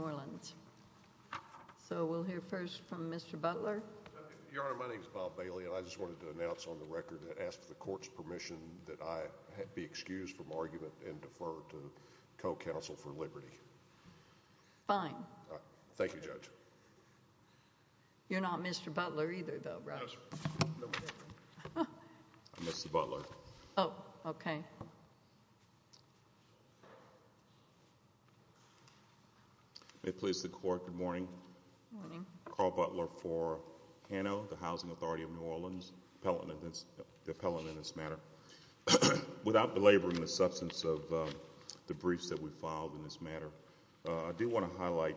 Orleans, so we'll hear first from Mr. Butler. Your Honor, my name is Bob Bailey, and I just wanted to announce on the record and ask for argument and defer to co-counsel for liberty. Fine. Thank you, Judge. You're not Mr. Butler either, though, right? I'm Mr. Butler. Oh, okay. May it please the Court, good morning. Good morning. Carl Butler for HANO, the Housing Authority of New Orleans, the appellant in this matter. Without belaboring the substance of the briefs that we filed in this matter, I do want to highlight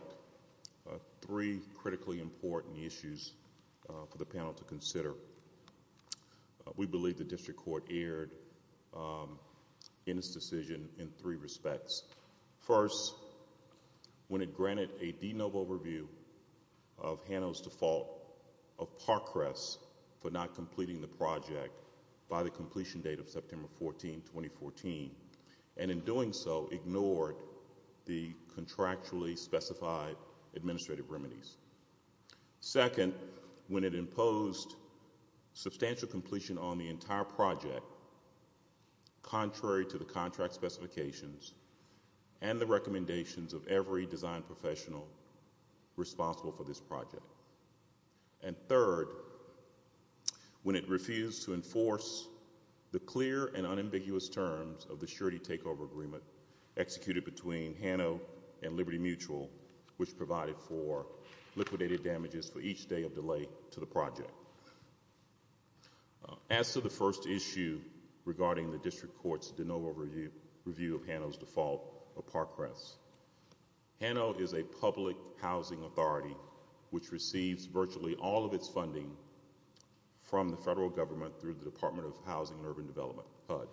three critically important issues for the panel to consider. We believe the district court erred in its decision in three respects. First, when it granted a de novo review of HANO's default of Parkcrest for not completing the project by the completion date of September 14, 2014, and in doing so, ignored the contractually specified administrative remedies. Second, when it imposed substantial completion on the entire project, contrary to the contract specifications and the recommendations of every design professional responsible for this project. And third, when it refused to enforce the clear and unambiguous terms of the surety takeover agreement executed between HANO and Liberty Mutual, which provided for liquidated damages for each day of delay to the project. As to the first issue regarding the district court's de novo review of HANO's default of Parkcrest receives virtually all of its funding from the federal government through the Department of Housing and Urban Development, HUD.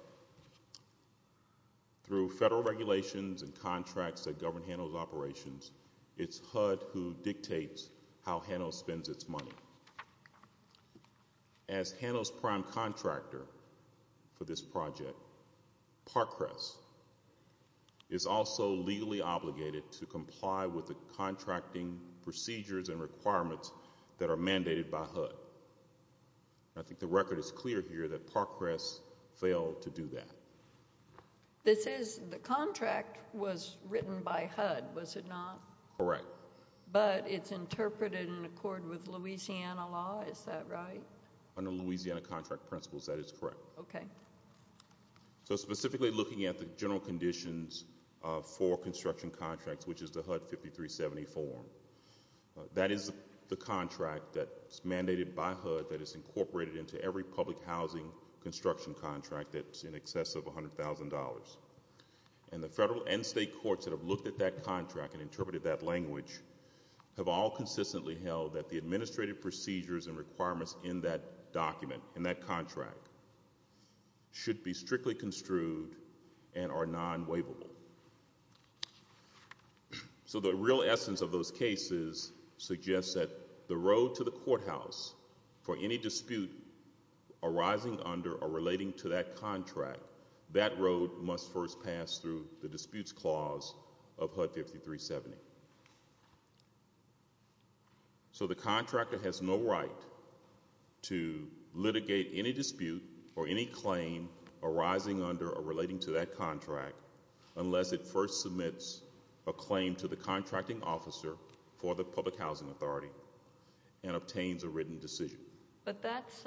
Through federal regulations and contracts that govern HANO's operations, it's HUD who dictates how HANO spends its money. As HANO's prime contractor for this project, Parkcrest is also legally obligated to comply with the contracting procedures and requirements that are mandated by HUD. I think the record is clear here that Parkcrest failed to do that. This is, the contract was written by HUD, was it not? Correct. But it's interpreted in accord with Louisiana law, is that right? Under Louisiana contract principles, that is correct. Okay. So specifically looking at the general conditions for construction contracts, which is the HUD 5370 form, that is the contract that's mandated by HUD that is incorporated into every public housing construction contract that's in excess of $100,000. And the federal and state courts that have looked at that contract and interpreted that language have all consistently held that the administrative procedures and requirements in that document, in that contract, should be strictly construed and are non-waivable. So the real essence of those cases suggests that the road to the courthouse for any dispute arising under or relating to that contract, that road must first pass through the disputes clause of HUD 5370. So the contractor has no right to litigate any dispute or any claim arising under or relating to that contract unless it first submits a claim to the contracting officer for the public housing authority and obtains a written decision. But that's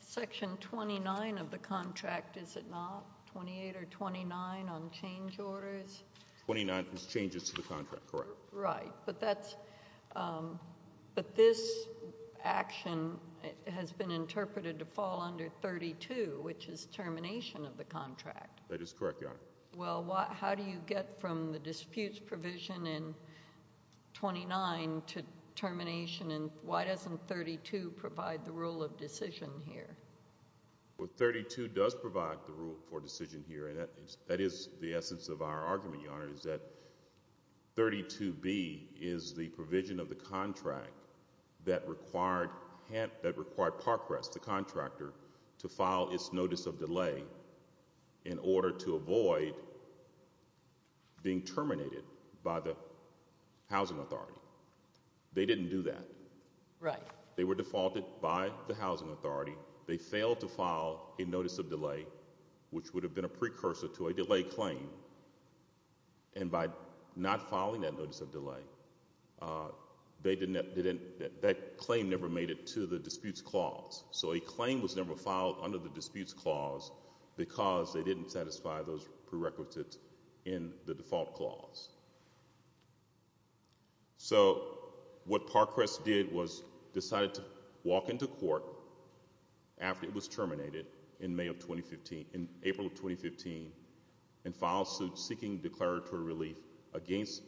section 29 of the contract, is it not? 28 or 29 on change orders? 29 is changes to the contract, correct. Right. But this action has been interpreted to fall under 32, which is termination of the contract. That is correct, Your Honor. Well, how do you get from the disputes provision in 29 to termination? And why doesn't 32 provide the rule of decision here? Well, 32 does provide the rule for decision here, and that is the essence of our argument, Your Honor, is that 32B is the provision of the contract that required Parkrest, the contractor, to file its notice of delay in order to avoid being terminated by the housing authority. They didn't do that. They were defaulted by the housing authority. They failed to file a notice of delay, which would have been a precursor to a delay claim. And by not filing that notice of delay, that claim never made it to the disputes clause. So a claim was never filed under the disputes clause because they didn't satisfy those prerequisites in the default clause. So what Parkrest did was decided to walk into court after it was terminated in April of 2015 and filed suit seeking declaratory relief against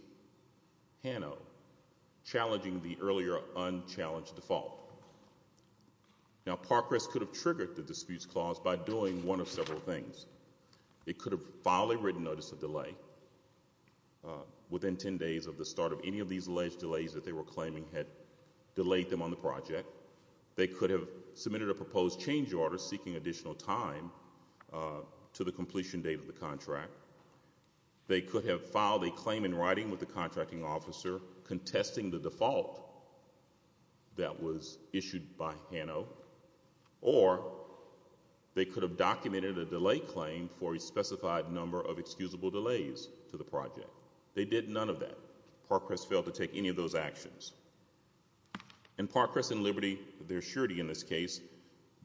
Hano, challenging the earlier unchallenged default. Now, Parkrest could have triggered the disputes clause by doing one of several things. It could have filed a written notice of delay within 10 days of the start of any of these alleged delays that they were claiming had delayed them on the project. They could have submitted a proposed change order seeking additional time to the completion date of the contract. They could have filed a claim in writing with the contracting officer, contesting the default that was issued by Hano. Or they could have documented a delay claim for a specified number of excusable delays to the project. They did none of that. Parkrest failed to take any of those actions. And Parkrest and Liberty, their surety in this case,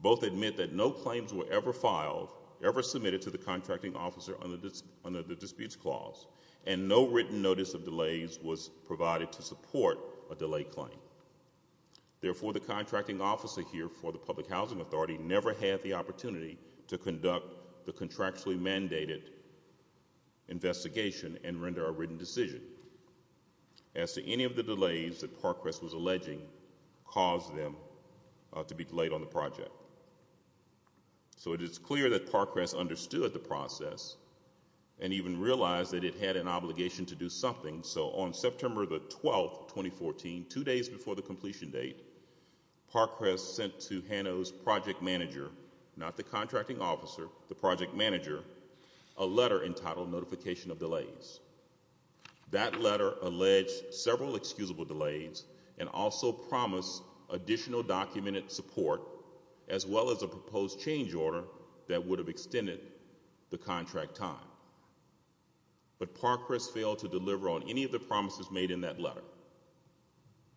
both admit that no claims were ever filed, ever submitted to the contracting officer under the disputes clause, and no written notice of delays was provided to support a delay claim. Therefore, the contracting officer here for the Public Housing Authority never had the opportunity to conduct the contractually mandated investigation and render a written decision as to any of the delays that Parkrest was alleging caused them to be delayed on the project. So it is clear that Parkrest understood the process and even realized that it had an obligation to do something. So on September the 12th, 2014, two days before the completion date, Parkrest sent to Hano's project manager, not the contracting officer, the project manager, a letter entitled Notification of Delays. That letter alleged several excusable delays and also promised additional documented support as well as a proposed change order that would have extended the contract time. But Parkrest failed to deliver on any of the promises made in that letter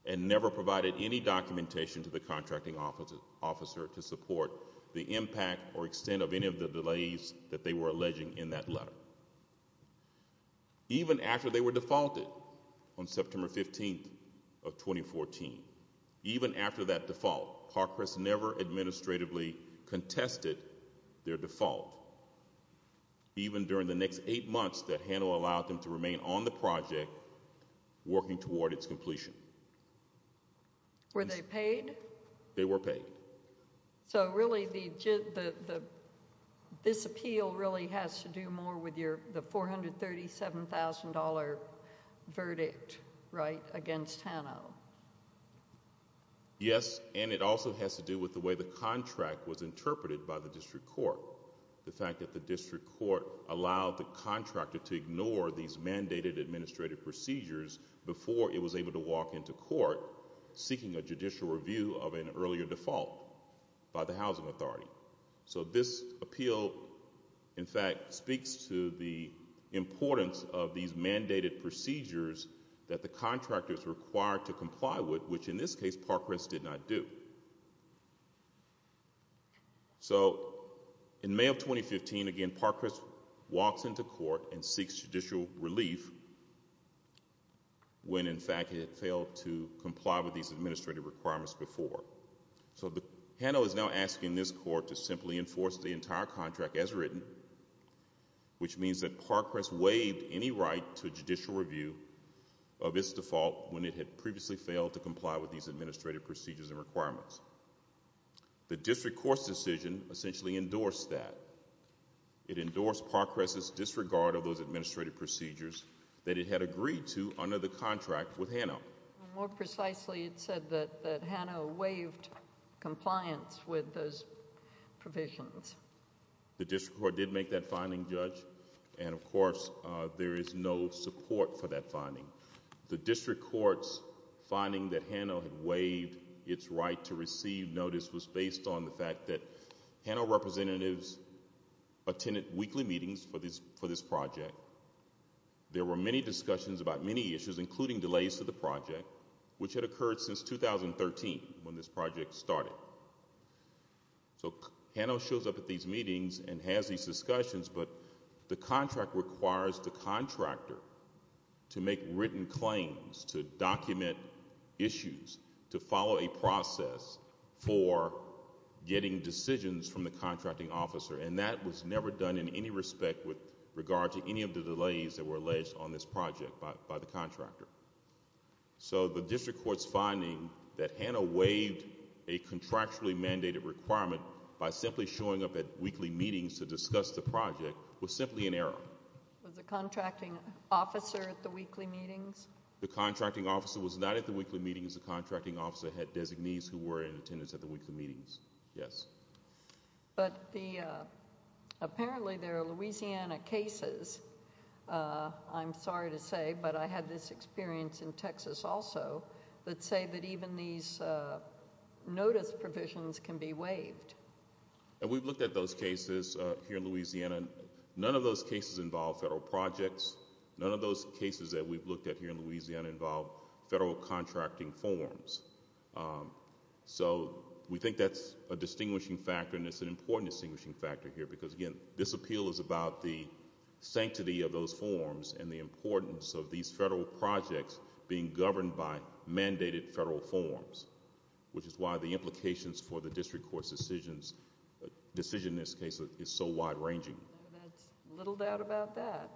and never provided any documentation to the contracting officer to support the impact or extent of any of the delays that they were alleging in that letter. Even after they were defaulted on September 15th of 2014, even after that default, Parkrest never administratively contested their default. Even during the next eight months that Hano allowed them to remain on the project working toward its completion. Were they paid? They were paid. So really this appeal really has to do more with the $437,000 verdict, right, against Hano? Yes, and it also has to do with the way the contract was interpreted by the district court. The fact that the district court allowed the contractor to ignore these mandated administrative procedures before it was able to walk into court seeking a judicial review of an earlier default by the housing authority. So this appeal, in fact, speaks to the importance of these mandated procedures that the contractors required to comply with, which in this case Parkrest did not do. So in May of 2015, again, Parkrest walks into court and seeks judicial relief when in fact he had failed to comply with these administrative requirements before. So Hano is now asking this court to simply enforce the entire contract as written, which means that Parkrest waived any right to judicial review of its default when it had previously failed to comply with these administrative procedures and requirements. The district court's decision essentially endorsed that. It endorsed Parkrest's disregard of those administrative procedures that it had agreed to under the contract with Hano. More precisely, it said that Hano waived compliance with those provisions. The district court did make that finding, Judge, and of course there is no support for that finding. The district court's finding that Hano had waived its right to receive notice was based on the fact that Hano representatives attended weekly meetings for this project. There were many discussions about many issues, including delays to the project, which had occurred since 2013 when this project started. So Hano shows up at these meetings and has these discussions, but the contract requires the contractor to make written claims, to document issues, to follow a process for getting decisions from the contracting officer, and that was never done in any respect with regard to any of the delays that were alleged on this project by the contractor. So the district court's finding that Hano waived a contractually mandated requirement by simply showing up at weekly meetings to discuss the project was simply an error. Was the contracting officer at the weekly meetings? The contracting officer was not at the weekly meetings. The contracting officer had designees who were in attendance at the weekly meetings, yes. But apparently there are Louisiana cases, I'm sorry to say, but I had this experience in Texas also that say that even these notice provisions can be waived. And we've looked at those cases here in Louisiana. None of those cases involve federal projects. None of those cases that we've looked at here in Louisiana involve federal contracting forms. So we think that's a distinguishing factor, and it's an important distinguishing factor here, because, again, this appeal is about the sanctity of those forms and the importance of these federal projects being governed by mandated federal forms, which is why the implications for the district court's decision in this case is so wide ranging. There's little doubt about that.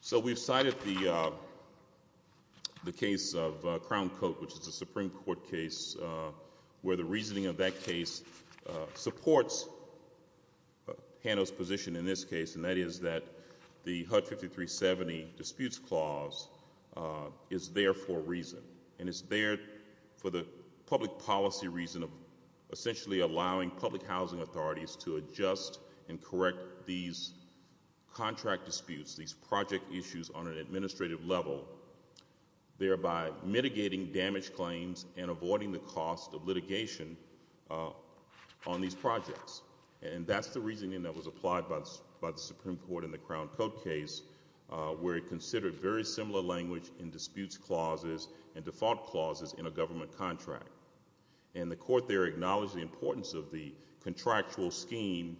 So we've cited the case of Crown Coat, which is a Supreme Court case, where the reasoning of that case supports Hano's position in this case, and that is that the HUD 5370 disputes clause is there for a reason, and it's there for the public policy reason of essentially allowing public housing authorities to adjust and correct these contract disputes, these project issues on an administrative level, thereby mitigating damage claims and avoiding the cost of litigation on these projects. And that's the reasoning that was applied by the Supreme Court in the Crown Coat case, where it considered very similar language in disputes clauses and default clauses in a government contract. And the court there acknowledged the importance of the contractual scheme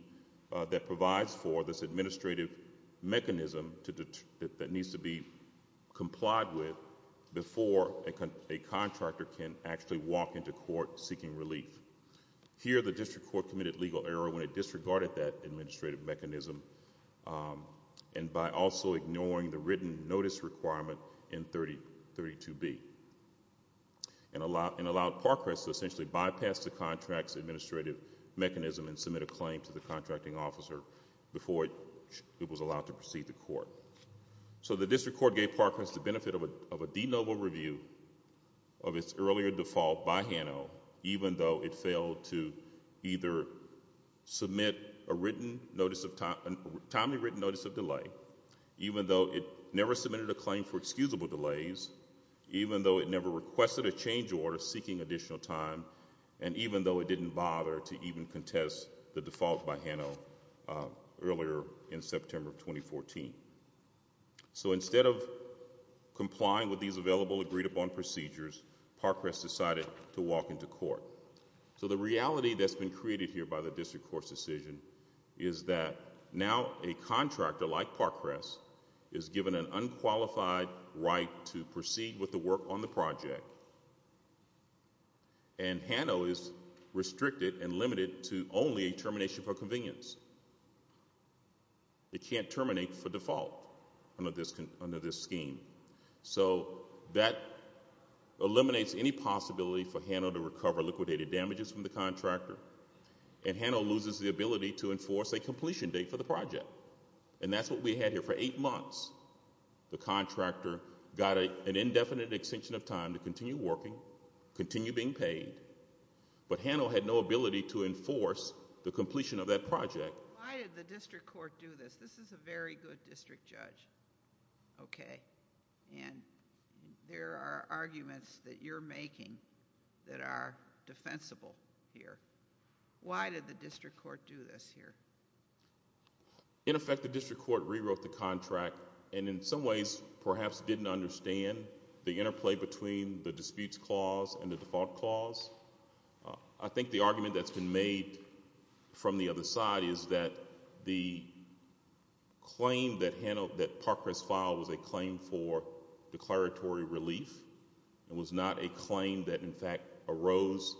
that provides for this administrative mechanism that needs to be complied with before a contractor can actually walk into court seeking relief. Here the district court committed legal error when it disregarded that administrative mechanism and by also ignoring the written notice requirement in 32B and allowed Parkhurst to essentially bypass the contract's administrative mechanism and submit a claim to the contracting officer before it was allowed to proceed to court. So the district court gave Parkhurst the benefit of a de novo review of its earlier default by Hano, even though it failed to either submit a timely written notice of delay, even though it never submitted a claim for excusable delays, even though it never requested a change order seeking additional time, and even though it didn't bother to even contest the default by Hano earlier in September 2014. So instead of complying with these available agreed-upon procedures, Parkhurst decided to walk into court. So the reality that's been created here by the district court's decision is that now a contractor like Parkhurst is given an unqualified right to proceed with the work on the project, and Hano is restricted and limited to only a termination for convenience. It can't terminate for default under this scheme. So that eliminates any possibility for Hano to recover liquidated damages from the contractor, and Hano loses the ability to enforce a completion date for the project, and that's what we had here for eight months. The contractor got an indefinite extension of time to continue working, continue being paid, but Hano had no ability to enforce the completion of that project. Why did the district court do this? This is a very good district judge, okay, and there are arguments that you're making that are defensible here. Why did the district court do this here? In effect, the district court rewrote the contract and in some ways perhaps didn't understand the interplay between the disputes clause and the default clause. I think the argument that's been made from the other side is that the claim that Hano, that Parkhurst filed was a claim for declaratory relief. It was not a claim that in fact arose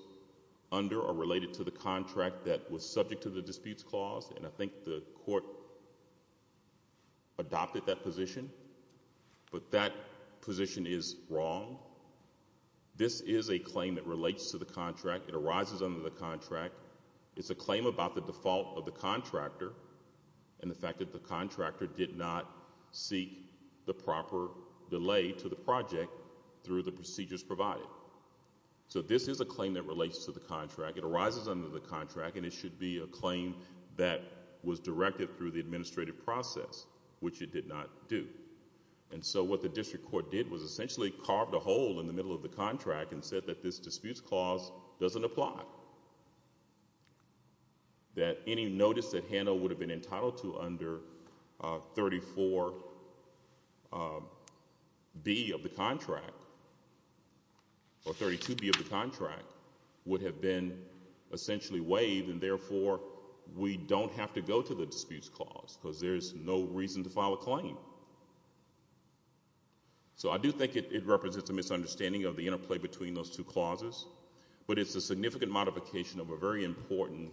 under or related to the contract that was subject to the disputes clause, and I think the court adopted that position, but that position is wrong. This is a claim that relates to the contract. It arises under the contract. It's a claim about the default of the contractor and the fact that the contractor did not seek the proper delay to the project through the procedures provided. So this is a claim that relates to the contract. It arises under the contract, and it should be a claim that was directed through the administrative process, which it did not do, and so what the district court did was essentially carved a hole in the middle of the contract and said that this disputes clause doesn't apply, that any notice that Hano would have been entitled to under 34B of the contract or 32B of the contract would have been essentially waived, and therefore we don't have to go to the disputes clause because there's no reason to file a claim. So I do think it represents a misunderstanding of the interplay between those two clauses, but it's a significant modification of a very important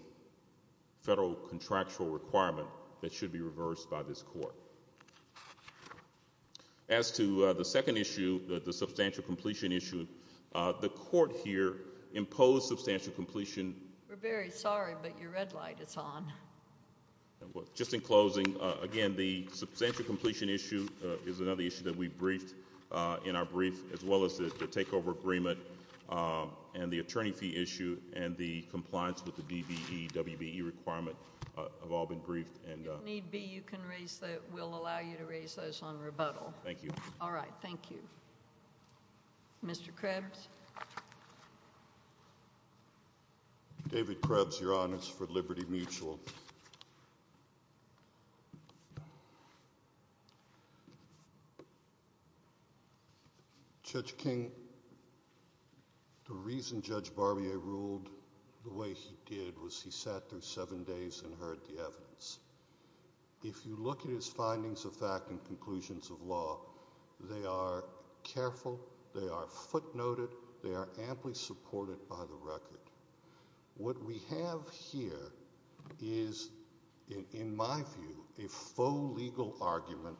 federal contractual requirement that should be reversed by this court. As to the second issue, the substantial completion issue, the court here imposed substantial completion. We're very sorry, but your red light is on. Just in closing, again, the substantial completion issue is another issue that we briefed in our brief, as well as the takeover agreement and the attorney fee issue and the compliance with the DBE WBE requirement have all been briefed. If need be, we'll allow you to raise those on rebuttal. Thank you. All right, thank you. Mr. Krebs? David Krebs, Your Honors, for Liberty Mutual. Judge King, the reason Judge Barbier ruled the way he did was he sat there seven days and heard the evidence. If you look at his findings of fact and conclusions of law, they are careful, they are footnoted, they are amply supported by the record. What we have here is, in my view, a faux legal argument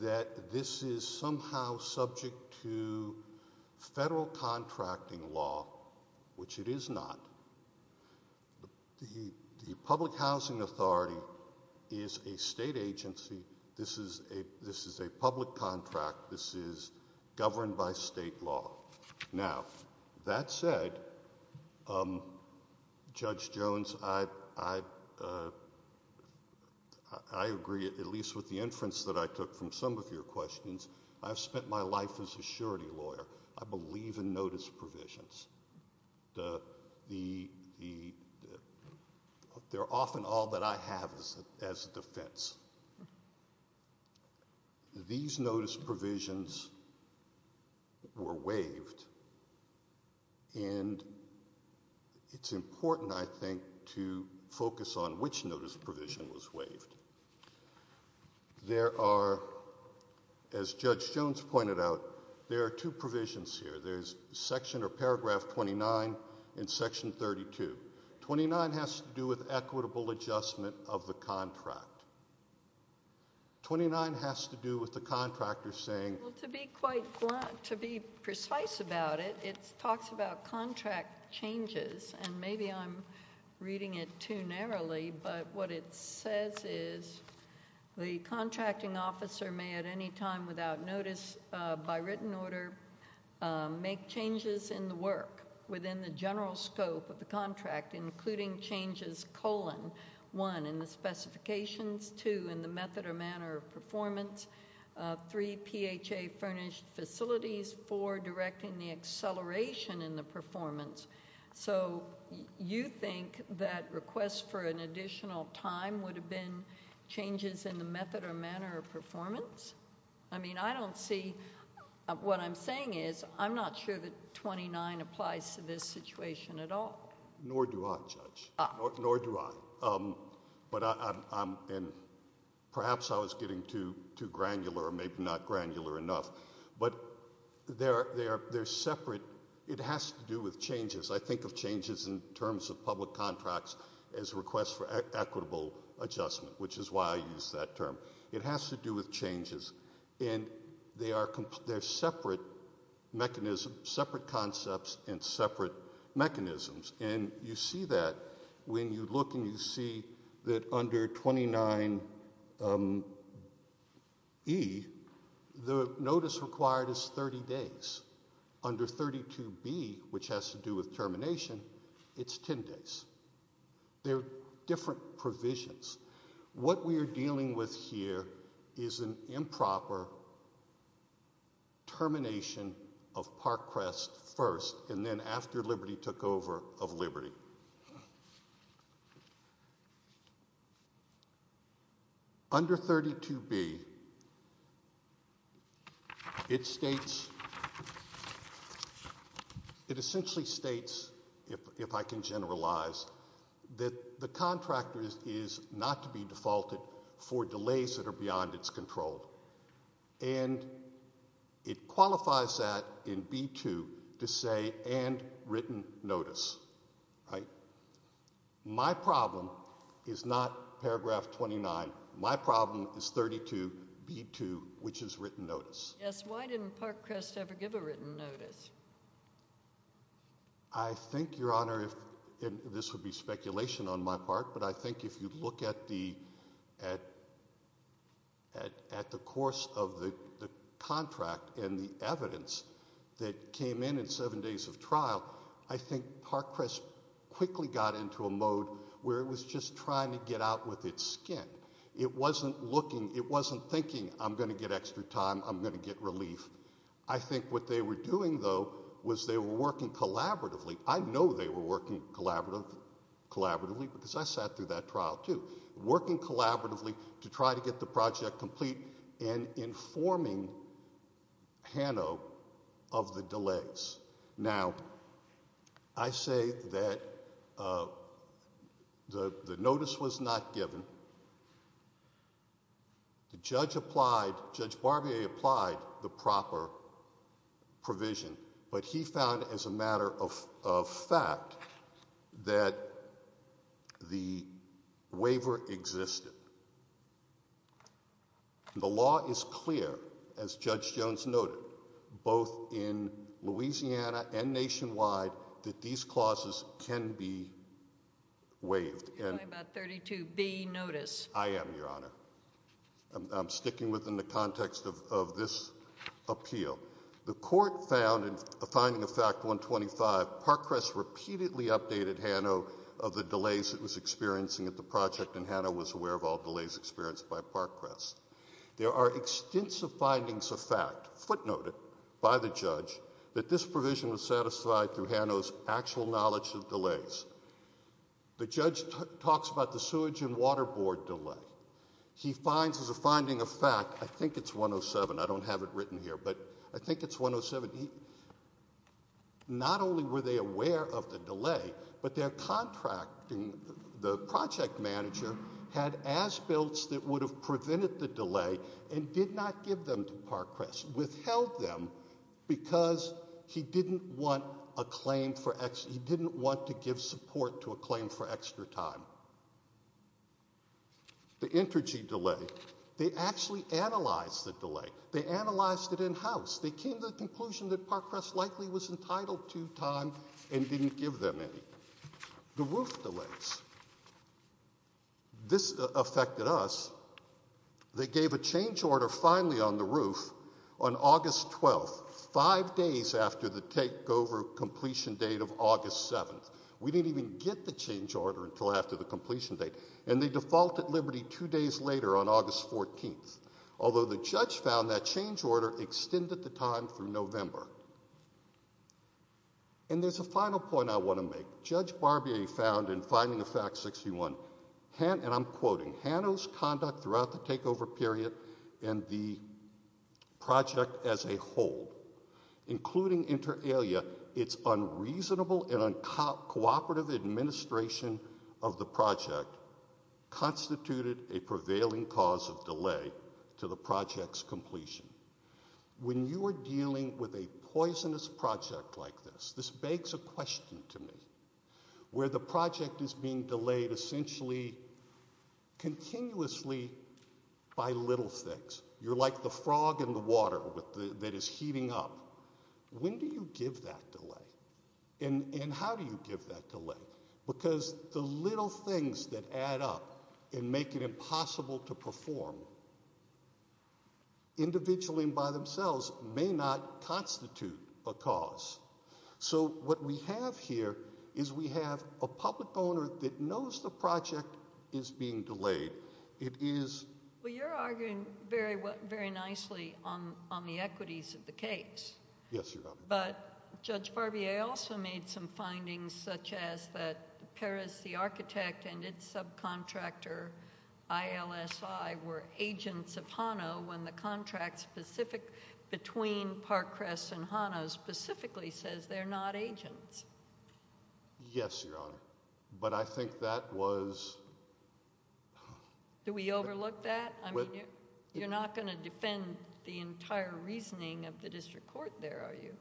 that this is somehow subject to federal contracting law, which it is not. The public housing authority is a state agency. This is a public contract. This is governed by state law. Now, that said, Judge Jones, I agree, at least with the inference that I took from some of your questions, I've spent my life as a surety lawyer. I believe in notice provisions. They're often all that I have as a defense. These notice provisions were waived, and it's important, I think, to focus on which notice provision was waived. There are, as Judge Jones pointed out, there are two provisions here. There's Section or Paragraph 29 and Section 32. Twenty-nine has to do with equitable adjustment of the contract. Twenty-nine has to do with the contractor saying— Well, to be quite—to be precise about it, it talks about contract changes, and maybe I'm reading it too narrowly, but what it says is the contracting officer may at any time without notice by written order make changes in the work within the general scope of the contract, including changes, colon, one, in the specifications, two, in the method or manner of performance, three, PHA furnished facilities, four, directing the acceleration in the performance. So you think that requests for an additional time would have been changes in the method or manner of performance? I mean, I don't see—what I'm saying is I'm not sure that 29 applies to this situation at all. Nor do I, Judge. Nor do I. But I'm—and perhaps I was getting too granular or maybe not granular enough. But they're separate. It has to do with changes. I think of changes in terms of public contracts as requests for equitable adjustment, which is why I use that term. It has to do with changes, and they are separate mechanisms, separate concepts, and separate mechanisms. And you see that when you look and you see that under 29E, the notice required is 30 days. Under 32B, which has to do with termination, it's 10 days. They're different provisions. What we are dealing with here is an improper termination of Parkcrest first and then after Liberty took over of Liberty. Under 32B, it states—it essentially states, if I can generalize, that the contractor is not to be defaulted for delays that are beyond its control. And it qualifies that in B2 to say and written notice, right? My problem is not paragraph 29. My problem is 32B2, which is written notice. Yes, why didn't Parkcrest ever give a written notice? I think, Your Honor, and this would be speculation on my part, but I think if you look at the course of the contract and the evidence that came in in seven days of trial, I think Parkcrest quickly got into a mode where it was just trying to get out with its skin. It wasn't looking—it wasn't thinking, I'm going to get extra time, I'm going to get relief. I think what they were doing, though, was they were working collaboratively. I know they were working collaboratively because I sat through that trial, too, working collaboratively to try to get the project complete and informing Hano of the delays. Now, I say that the notice was not given. The judge applied—Judge Barbier applied the proper provision, but he found as a matter of fact that the waiver existed. The law is clear, as Judge Jones noted, both in Louisiana and nationwide, that these clauses can be waived. You're talking about 32B, notice. I am, Your Honor. I'm sticking within the context of this appeal. The court found in the finding of Fact 125, Parkcrest repeatedly updated Hano of the delays it was experiencing at the project, and Hano was aware of all delays experienced by Parkcrest. There are extensive findings of fact, footnoted by the judge, that this provision was satisfied through Hano's actual knowledge of delays. The judge talks about the sewage and water board delay. He finds as a finding of fact—I think it's 107. I don't have it written here, but I think it's 107. Not only were they aware of the delay, but their contracting—the project manager had asbilts that would have prevented the delay and did not give them to Parkcrest, but Parkcrest withheld them because he didn't want to give support to a claim for extra time. The energy delay. They actually analyzed the delay. They analyzed it in-house. They came to the conclusion that Parkcrest likely was entitled to time and didn't give them any. The roof delays. This affected us. They gave a change order finally on the roof on August 12th, five days after the takeover completion date of August 7th. We didn't even get the change order until after the completion date, and they defaulted Liberty two days later on August 14th, although the judge found that change order extended the time through November. And there's a final point I want to make. Judge Barbier found in finding of fact 61, and I'm quoting, Hano's conduct throughout the takeover period and the project as a whole, including inter alia, its unreasonable and uncooperative administration of the project, constituted a prevailing cause of delay to the project's completion. When you are dealing with a poisonous project like this, this begs a question to me. Where the project is being delayed essentially continuously by little things. You're like the frog in the water that is heating up. When do you give that delay? And how do you give that delay? Because the little things that add up and make it impossible to perform individually and by themselves may not constitute a cause. So what we have here is we have a public owner that knows the project is being delayed. It is. Well, you're arguing very nicely on the equities of the case. Yes, Your Honor. But Judge Barbier also made some findings such as that Parris, the architect, and its subcontractor ILSI were agents of Hano when the contract specific between Parkcrest and Hano specifically says they're not agents. Yes, Your Honor. But I think that was ‑‑ Do we overlook that? You're not going to defend the entire reasoning of the district court there, are you?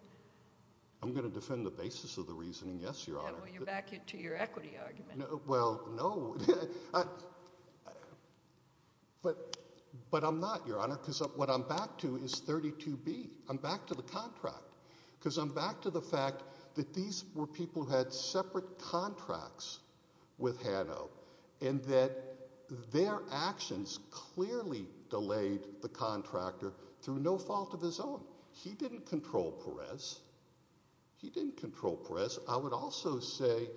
I'm going to defend the basis of the reasoning, yes, Your Honor. Yeah, well, you're back to your equity argument. Well, no. But I'm not, Your Honor, because what I'm back to is 32B. I'm back to the contract because I'm back to the fact that these were people who had separate contracts with Hano and that their actions clearly delayed the contractor through no fault of his own. He didn't control Parris. He didn't control Parris. I would also say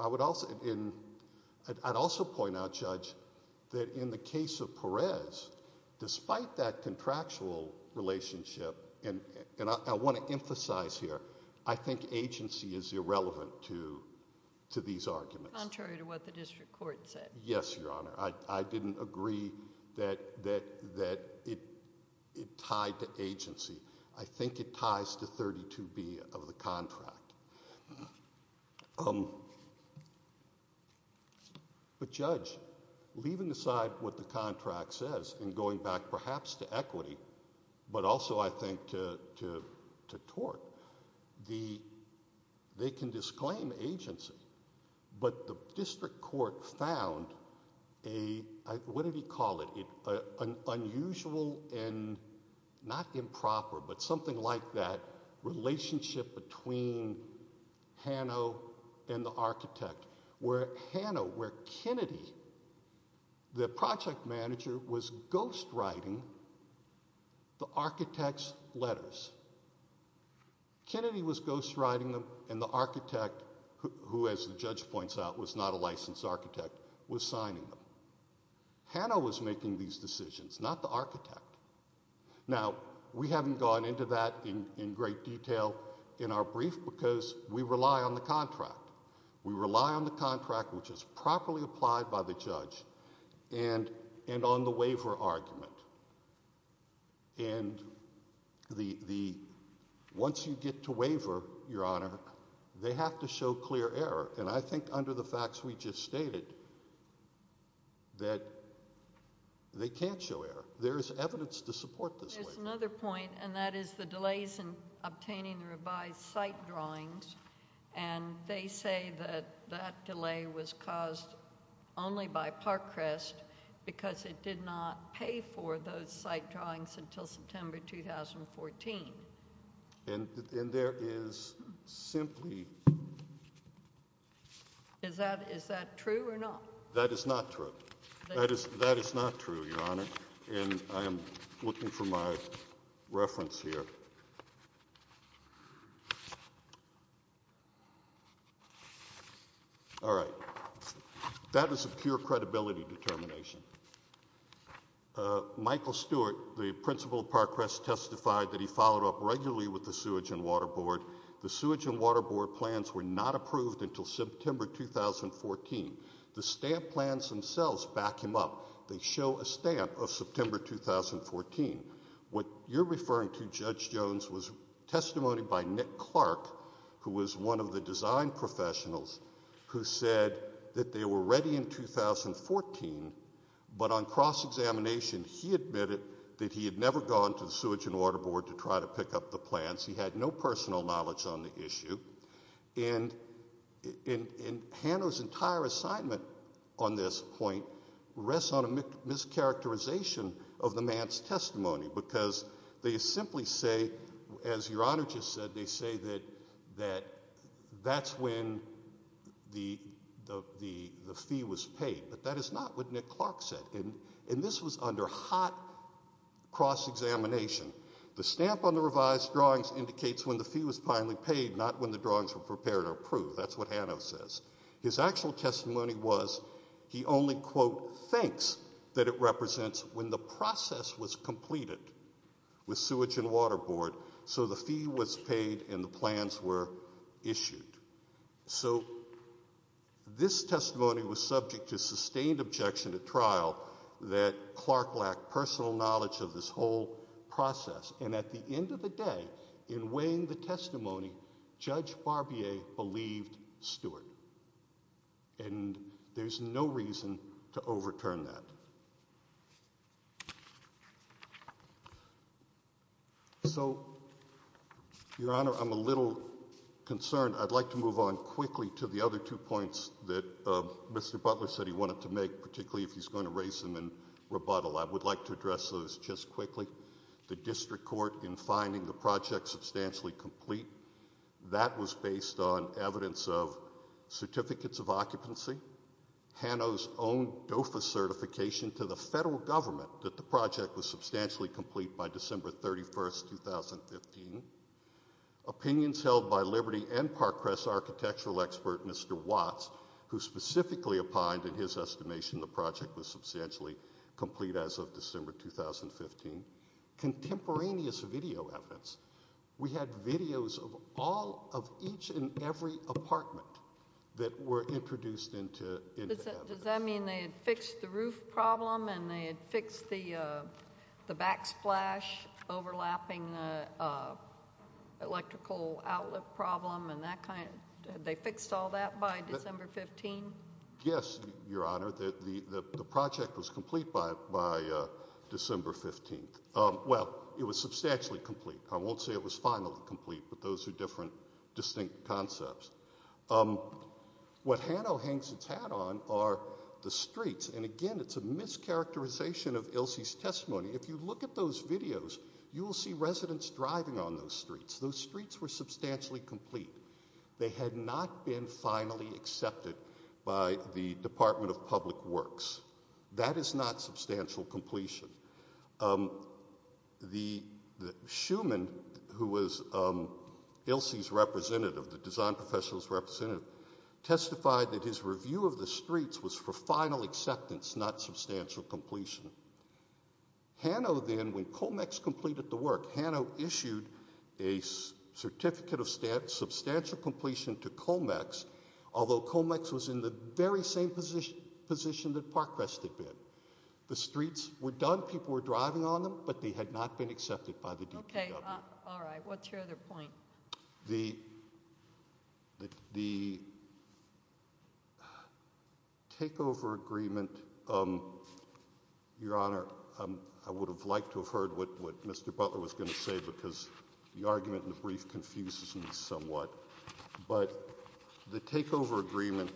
‑‑ I would also ‑‑ I'd also point out, Judge, that in the case of Parris, despite that contractual relationship, and I want to emphasize here, I think agency is irrelevant to these arguments. That's contrary to what the district court said. Yes, Your Honor. I didn't agree that it tied to agency. I think it ties to 32B of the contract. But, Judge, leaving aside what the contract says and going back perhaps to equity, but also, I think, to tort, they can disclaim agency, but the district court found a ‑‑ what did he call it? An unusual and not improper, but something like that, relationship between Hano and the architect. Where Hano, where Kennedy, the project manager, was ghostwriting the architect's letters. Kennedy was ghostwriting them and the architect, who, as the judge points out, was not a licensed architect, was signing them. Hano was making these decisions, not the architect. Now, we haven't gone into that in great detail in our brief because we rely on the contract. We rely on the contract, which is properly applied by the judge, and on the waiver argument. And the ‑‑ once you get to waiver, Your Honor, they have to show clear error. And I think under the facts we just stated that they can't show error. There's another point, and that is the delays in obtaining the revised site drawings. And they say that that delay was caused only by Parkcrest because it did not pay for those site drawings until September 2014. And there is simply ‑‑ Is that true or not? That is not true. That is not true, Your Honor. And I am looking for my reference here. All right. That was a pure credibility determination. Michael Stewart, the principal of Parkcrest, testified that he followed up regularly with the Sewage and Water Board. The Sewage and Water Board plans were not approved until September 2014. The stamp plans themselves back him up. They show a stamp of September 2014. What you're referring to, Judge Jones, was testimony by Nick Clark, who was one of the design professionals, who said that they were ready in 2014, but on cross‑examination, he admitted that he had never gone to the Sewage and Water Board to try to pick up the plans. He had no personal knowledge on the issue. And Hannah's entire assignment on this point rests on a mischaracterization of the man's testimony because they simply say, as Your Honor just said, they say that that's when the fee was paid. But that is not what Nick Clark said. And this was under hot cross‑examination. The stamp on the revised drawings indicates when the fee was finally paid, not when the drawings were prepared or approved. That's what Hannah says. His actual testimony was he only, quote, thinks that it represents when the process was completed with Sewage and Water Board so the fee was paid and the plans were issued. So this testimony was subject to sustained objection at trial that Clark lacked personal knowledge of this whole process. And at the end of the day, in weighing the testimony, Judge Barbier believed Stewart. And there's no reason to overturn that. So, Your Honor, I'm a little concerned. I'd like to move on quickly to the other two points that Mr. Butler said he wanted to make, particularly if he's going to raise them in rebuttal. I would like to address those just quickly. The district court in finding the project substantially complete, that was based on evidence of certificates of occupancy, Hano's own DOFA certification to the federal government that the project was substantially complete by December 31, 2015, opinions held by Liberty and Parkcrest architectural expert Mr. Watts, who specifically opined, in his estimation, the project was substantially complete as of December 2015. Contemporaneous video evidence. We had videos of all of each and every apartment that were introduced into evidence. Does that mean they had fixed the roof problem and they had fixed the backsplash overlapping the electrical outlet problem and they fixed all that by December 15? Yes, Your Honor. The project was complete by December 15. Well, it was substantially complete. I won't say it was finally complete, but those are different, distinct concepts. What Hano hangs its hat on are the streets. And, again, it's a mischaracterization of Ilse's testimony. If you look at those videos, you will see residents driving on those streets. Those streets were substantially complete. They had not been finally accepted by the Department of Public Works. That is not substantial completion. Schuman, who was Ilse's representative, the design professional's representative, testified that his review of the streets was for final acceptance, not substantial completion. Hano then, when COMEX completed the work, Hano issued a certificate of substantial completion to COMEX, although COMEX was in the very same position that Parkrest had been. The streets were done. People were driving on them, but they had not been accepted by the DPW. Okay. All right. What's your other point? The takeover agreement, Your Honor, I would have liked to have heard what Mr. Butler was going to say because the argument in the brief confuses me somewhat, but the takeover agreement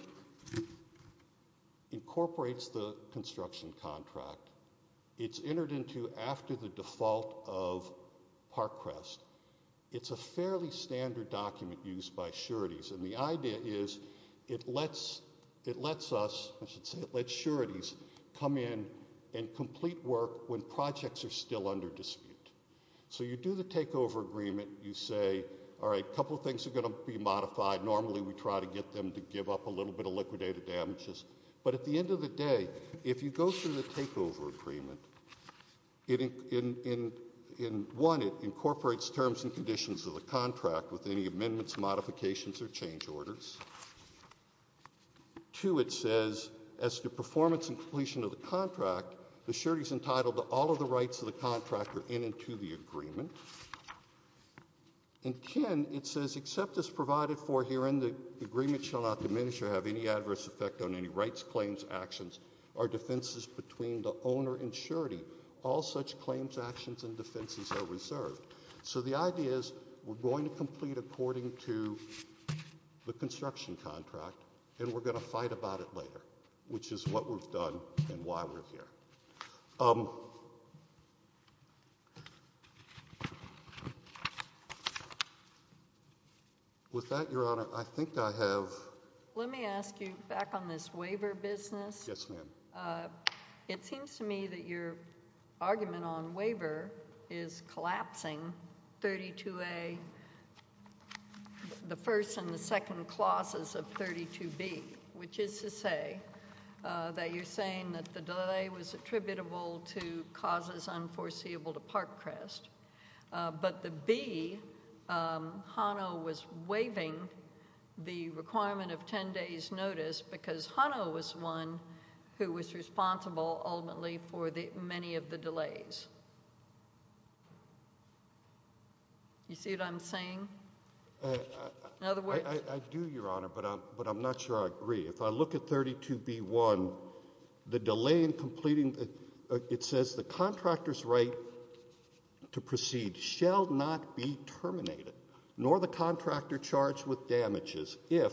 incorporates the construction contract. It's entered into after the default of Parkrest. It's a fairly standard document used by sureties, and the idea is it lets sureties come in and complete work when projects are still under dispute. So you do the takeover agreement. You say, all right, a couple of things are going to be modified. Normally we try to get them to give up a little bit of liquidated damages, but at the end of the day, if you go through the takeover agreement, one, it incorporates terms and conditions of the contract with any amendments, modifications, or change orders. Two, it says, as to performance and completion of the contract, the surety is entitled to all of the rights of the contractor in and to the agreement. And ten, it says, except as provided for herein, the agreement shall not diminish or have any adverse effect on any rights, claims, actions, or defenses between the owner and surety. All such claims, actions, and defenses are reserved. So the idea is we're going to complete according to the construction contract, and we're going to fight about it later, which is what we've done and why we're here. With that, Your Honor, I think I have— Let me ask you back on this waiver business. Yes, ma'am. It seems to me that your argument on waiver is collapsing 32A, the first and the second clauses of 32B, which is to say that you're saying that the delay was attributable to causes unforeseeable to Parkcrest, but the B, Hano was waiving the requirement of ten days' notice because Hano was one who was responsible, ultimately, for many of the delays. You see what I'm saying? In other words— I do, Your Honor, but I'm not sure I agree. If I look at 32B.1, the delay in completing—it says, the contractor's right to proceed shall not be terminated, nor the contractor charged with damages, if,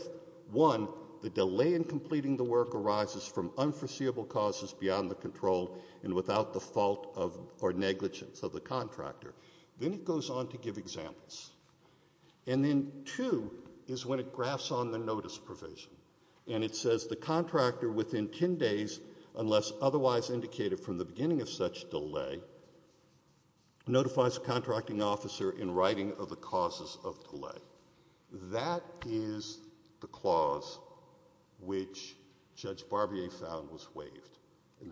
one, the delay in completing the work arises from unforeseeable causes beyond the control and without the fault or negligence of the contractor. Then it goes on to give examples. And then, two, is when it graphs on the notice provision, and it says the contractor within ten days, unless otherwise indicated from the beginning of such delay, notifies the contracting officer in writing of the causes of delay. That is the clause which Judge Barbier found was waived.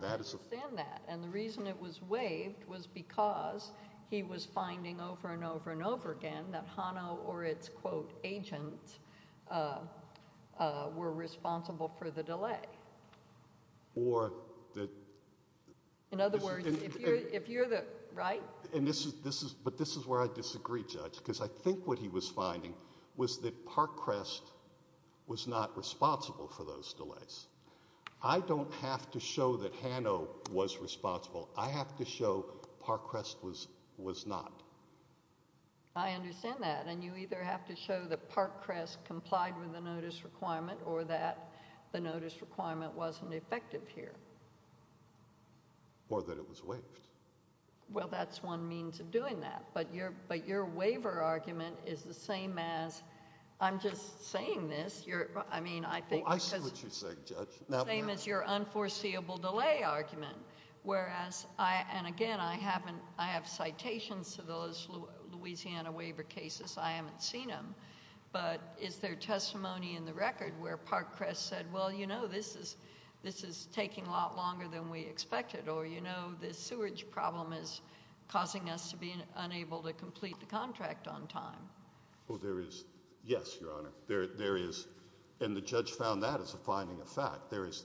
I understand that, and the reason it was waived was because he was finding over and over and over again that Hano or its, quote, agent were responsible for the delay. Or that— In other words, if you're the—right? And this is—but this is where I disagree, Judge, because I think what he was finding was that Parkcrest was not responsible for those delays. I don't have to show that Hano was responsible. I have to show Parkcrest was not. I understand that, and you either have to show that Parkcrest complied with the notice requirement or that the notice requirement wasn't effective here. Or that it was waived. Well, that's one means of doing that. But your waiver argument is the same as—I'm just saying this. I mean, I think— Well, I see what you're saying, Judge. Same as your unforeseeable delay argument, whereas I—and again, I haven't— I have citations to those Louisiana waiver cases. I haven't seen them. But is there testimony in the record where Parkcrest said, well, you know, this is taking a lot longer than we expected, or, you know, this sewage problem is causing us to be unable to complete the contract on time? Well, there is—yes, Your Honor. There is—and the judge found that as a finding of fact. There is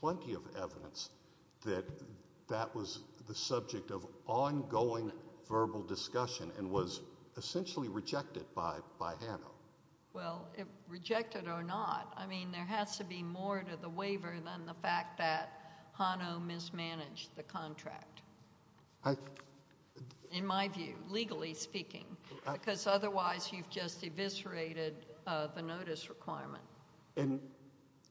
plenty of evidence that that was the subject of ongoing verbal discussion and was essentially rejected by Hano. Well, rejected or not, I mean, there has to be more to the waiver than the fact that Hano mismanaged the contract, in my view, legally speaking, because otherwise you've just eviscerated the notice requirement.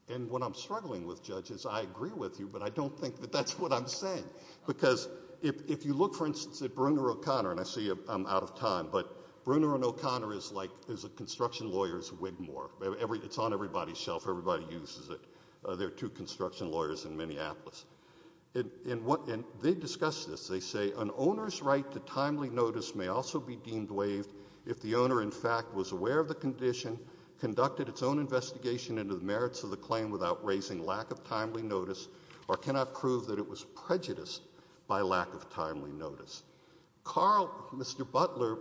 And what I'm struggling with, Judge, is I agree with you, but I don't think that that's what I'm saying. Because if you look, for instance, at Bruner O'Connor—and I see I'm out of time— but Bruner and O'Connor is like—is a construction lawyer's wigmore. It's on everybody's shelf. Everybody uses it. They're two construction lawyers in Minneapolis. And they discuss this. They say, An owner's right to timely notice may also be deemed waived if the owner, in fact, was aware of the condition, conducted its own investigation into the merits of the claim without raising lack of timely notice, or cannot prove that it was prejudiced by lack of timely notice. Carl—Mr. Butler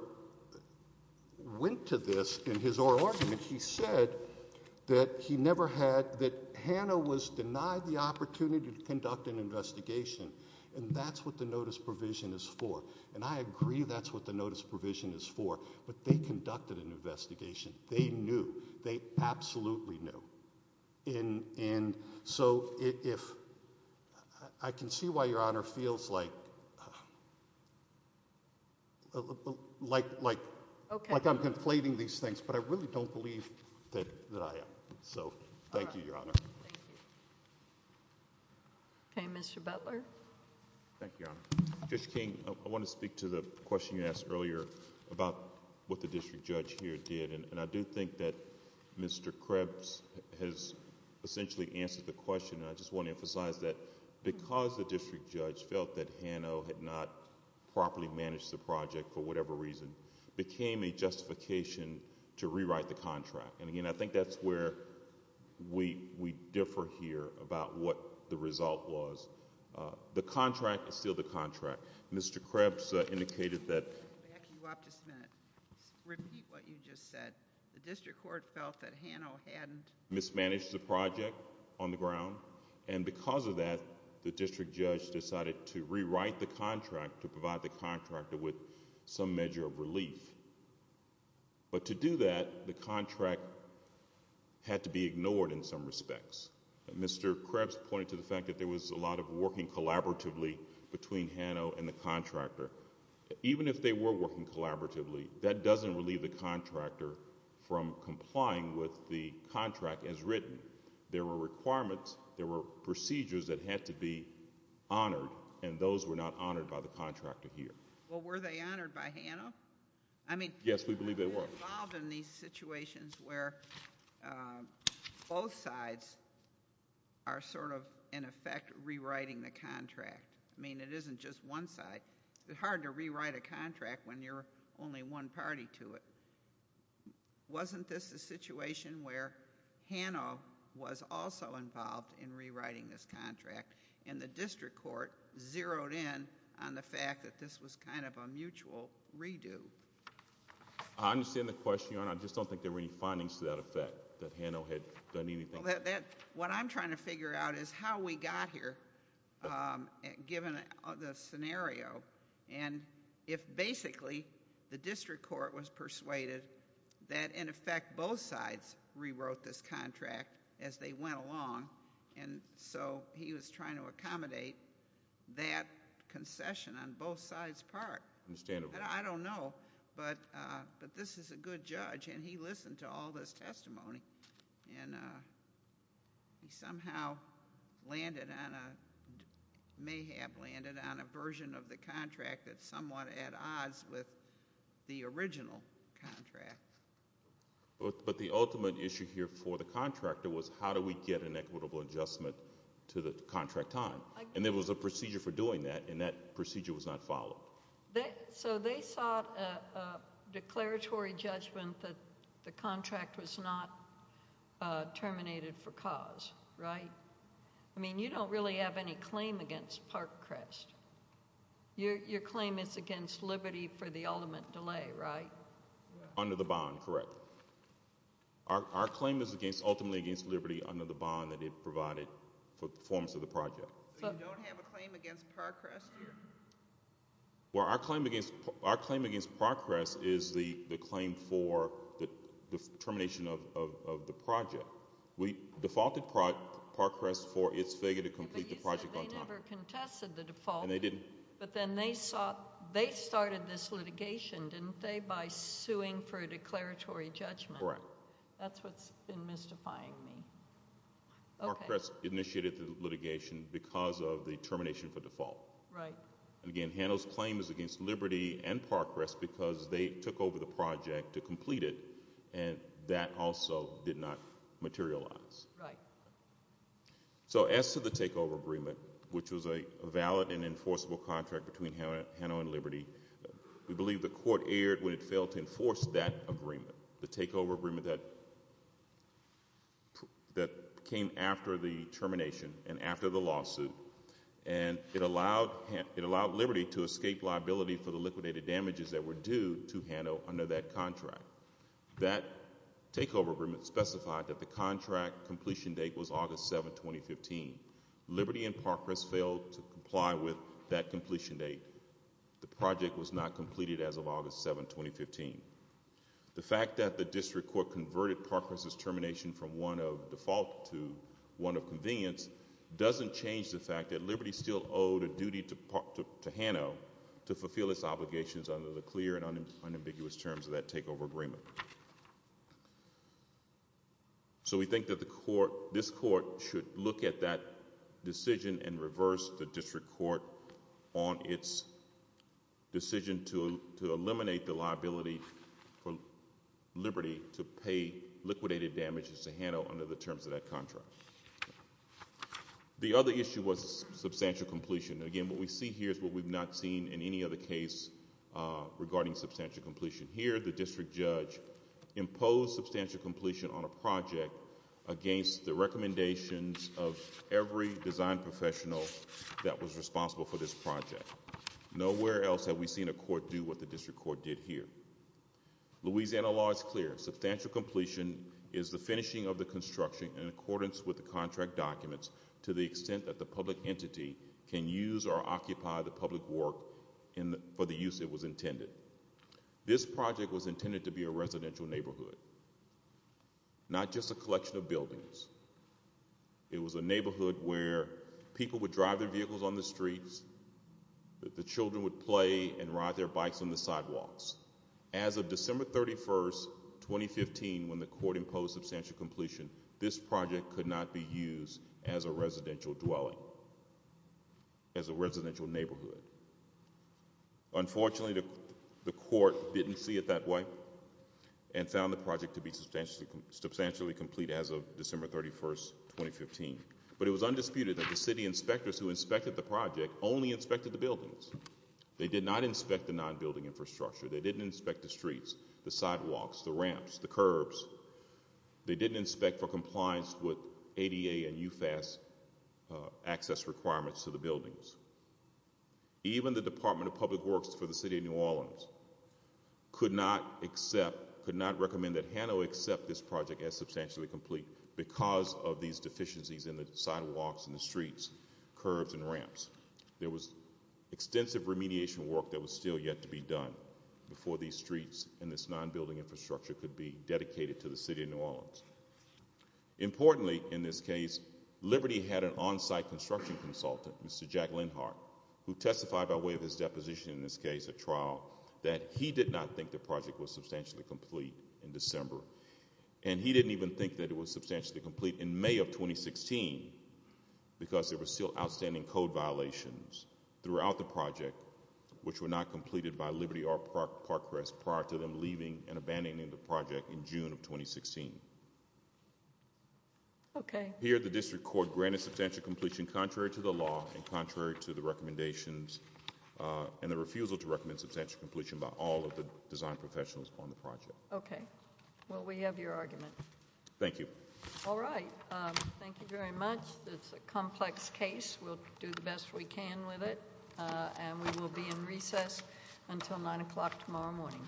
went to this in his oral argument. He said that he never had—that Hano was denied the opportunity to conduct an investigation, and that's what the notice provision is for. And I agree that's what the notice provision is for, but they conducted an investigation. They knew. They absolutely knew. And so if—I can see why Your Honor feels like I'm conflating these things, but I really don't believe that I am. So thank you, Your Honor. Thank you. Okay, Mr. Butler. Thank you, Your Honor. Judge King, I want to speak to the question you asked earlier about what the district judge here did. And I do think that Mr. Krebs has essentially answered the question, and I just want to emphasize that because the district judge felt that Hano had not properly managed the project for whatever reason, it became a justification to rewrite the contract. And, again, I think that's where we differ here about what the result was. The contract is still the contract. Mr. Krebs indicated that— Back you up just a minute. Repeat what you just said. The district court felt that Hano hadn't— —mismanaged the project on the ground, and because of that the district judge decided to rewrite the contract to provide the contractor with some measure of relief. But to do that, the contract had to be ignored in some respects. Mr. Krebs pointed to the fact that there was a lot of working collaboratively between Hano and the contractor. Even if they were working collaboratively, that doesn't relieve the contractor from complying with the contract as written. There were requirements, there were procedures that had to be honored, and those were not honored by the contractor here. Well, were they honored by Hano? I mean— Yes, we believe they were. —involved in these situations where both sides are sort of, in effect, rewriting the contract. I mean, it isn't just one side. It's hard to rewrite a contract when you're only one party to it. Wasn't this a situation where Hano was also involved in rewriting this contract, and the district court zeroed in on the fact that this was kind of a mutual redo? I understand the question, Your Honor. I just don't think there were any findings to that effect, that Hano had done anything. What I'm trying to figure out is how we got here, given the scenario, and if basically the district court was persuaded that, in effect, both sides rewrote this contract as they went along, and so he was trying to accommodate that concession on both sides' part. I understand. I don't know, but this is a good judge, and he listened to all this testimony, and he somehow may have landed on a version of the contract that's somewhat at odds with the original contract. But the ultimate issue here for the contractor was how do we get an equitable adjustment to the contract time, and there was a procedure for doing that, and that procedure was not followed. So they sought a declaratory judgment that the contract was not terminated for cause, right? I mean, you don't really have any claim against Parkcrest. Your claim is against liberty for the ultimate delay, right? Under the bond, correct. Our claim is ultimately against liberty under the bond that it provided for the performance of the project. So you don't have a claim against Parkcrest here? Well, our claim against Parkcrest is the claim for the termination of the project. We defaulted Parkcrest for its failure to complete the project on time. But you said they never contested the default. And they didn't. But then they started this litigation, didn't they, by suing for a declaratory judgment? Correct. That's what's been mystifying me. Parkcrest initiated the litigation because of the termination for default. Right. And again, Handel's claim is against liberty and Parkcrest because they took over the project to complete it, and that also did not materialize. Right. So as to the takeover agreement, which was a valid and enforceable contract between Handel and Liberty, we believe the court erred when it failed to enforce that agreement, the takeover agreement that came after the termination and after the lawsuit, and it allowed Liberty to escape liability for the liquidated damages that were due to Handel under that contract. That takeover agreement specified that the contract completion date was August 7, 2015. Liberty and Parkcrest failed to comply with that completion date. The project was not completed as of August 7, 2015. The fact that the district court converted Parkcrest's termination from one of default to one of convenience doesn't change the fact that Liberty still owed a duty to Hanno to fulfill its obligations under the clear and unambiguous terms of that takeover agreement. So we think that this court should look at that decision and reverse the district court on its decision to eliminate the liability for Liberty to pay liquidated damages to Hanno under the terms of that contract. The other issue was substantial completion. Again, what we see here is what we've not seen in any other case regarding substantial completion. Here, the district judge imposed substantial completion on a project against the recommendations of every design professional that was responsible for this project. Nowhere else have we seen a court do what the district court did here. Louisiana law is clear. Substantial completion is the finishing of the construction in accordance with the contract documents to the extent that the public entity can use or occupy the public work for the use it was intended. This project was intended to be a residential neighborhood, not just a collection of buildings. It was a neighborhood where people would drive their vehicles on the streets, the children would play and ride their bikes on the sidewalks. As of December 31, 2015, when the court imposed substantial completion, this project could not be used as a residential dwelling, as a residential neighborhood. Unfortunately, the court didn't see it that way and found the project to be substantially complete as of December 31, 2015. But it was undisputed that the city inspectors who inspected the project only inspected the buildings. They did not inspect the non-building infrastructure. They didn't inspect the streets, the sidewalks, the ramps, the curbs. They didn't inspect for compliance with ADA and UFAS access requirements to the buildings. Even the Department of Public Works for the city of New Orleans could not accept, could not recommend that Hanoi accept this project as substantially complete because of these deficiencies in the sidewalks and the streets, curbs and ramps. There was extensive remediation work that was still yet to be done before these streets and this non-building infrastructure could be dedicated to the city of New Orleans. Importantly, in this case, Liberty had an on-site construction consultant, Mr. Jack Lenhart, who testified by way of his deposition in this case, a trial, that he did not think the project was substantially complete in December. And he didn't even think that it was substantially complete in May of 2016 because there were still outstanding code violations throughout the project which were not completed by Liberty or Parkrest prior to them leaving and abandoning the project in June of 2016. Here, the District Court granted substantial completion contrary to the law and contrary to the recommendations and the refusal to recommend substantial completion by all of the design professionals on the project. Okay. Well, we have your argument. Thank you. All right. Thank you very much. It's a complex case. We'll do the best we can with it. And we will be in recess until 9 o'clock tomorrow morning.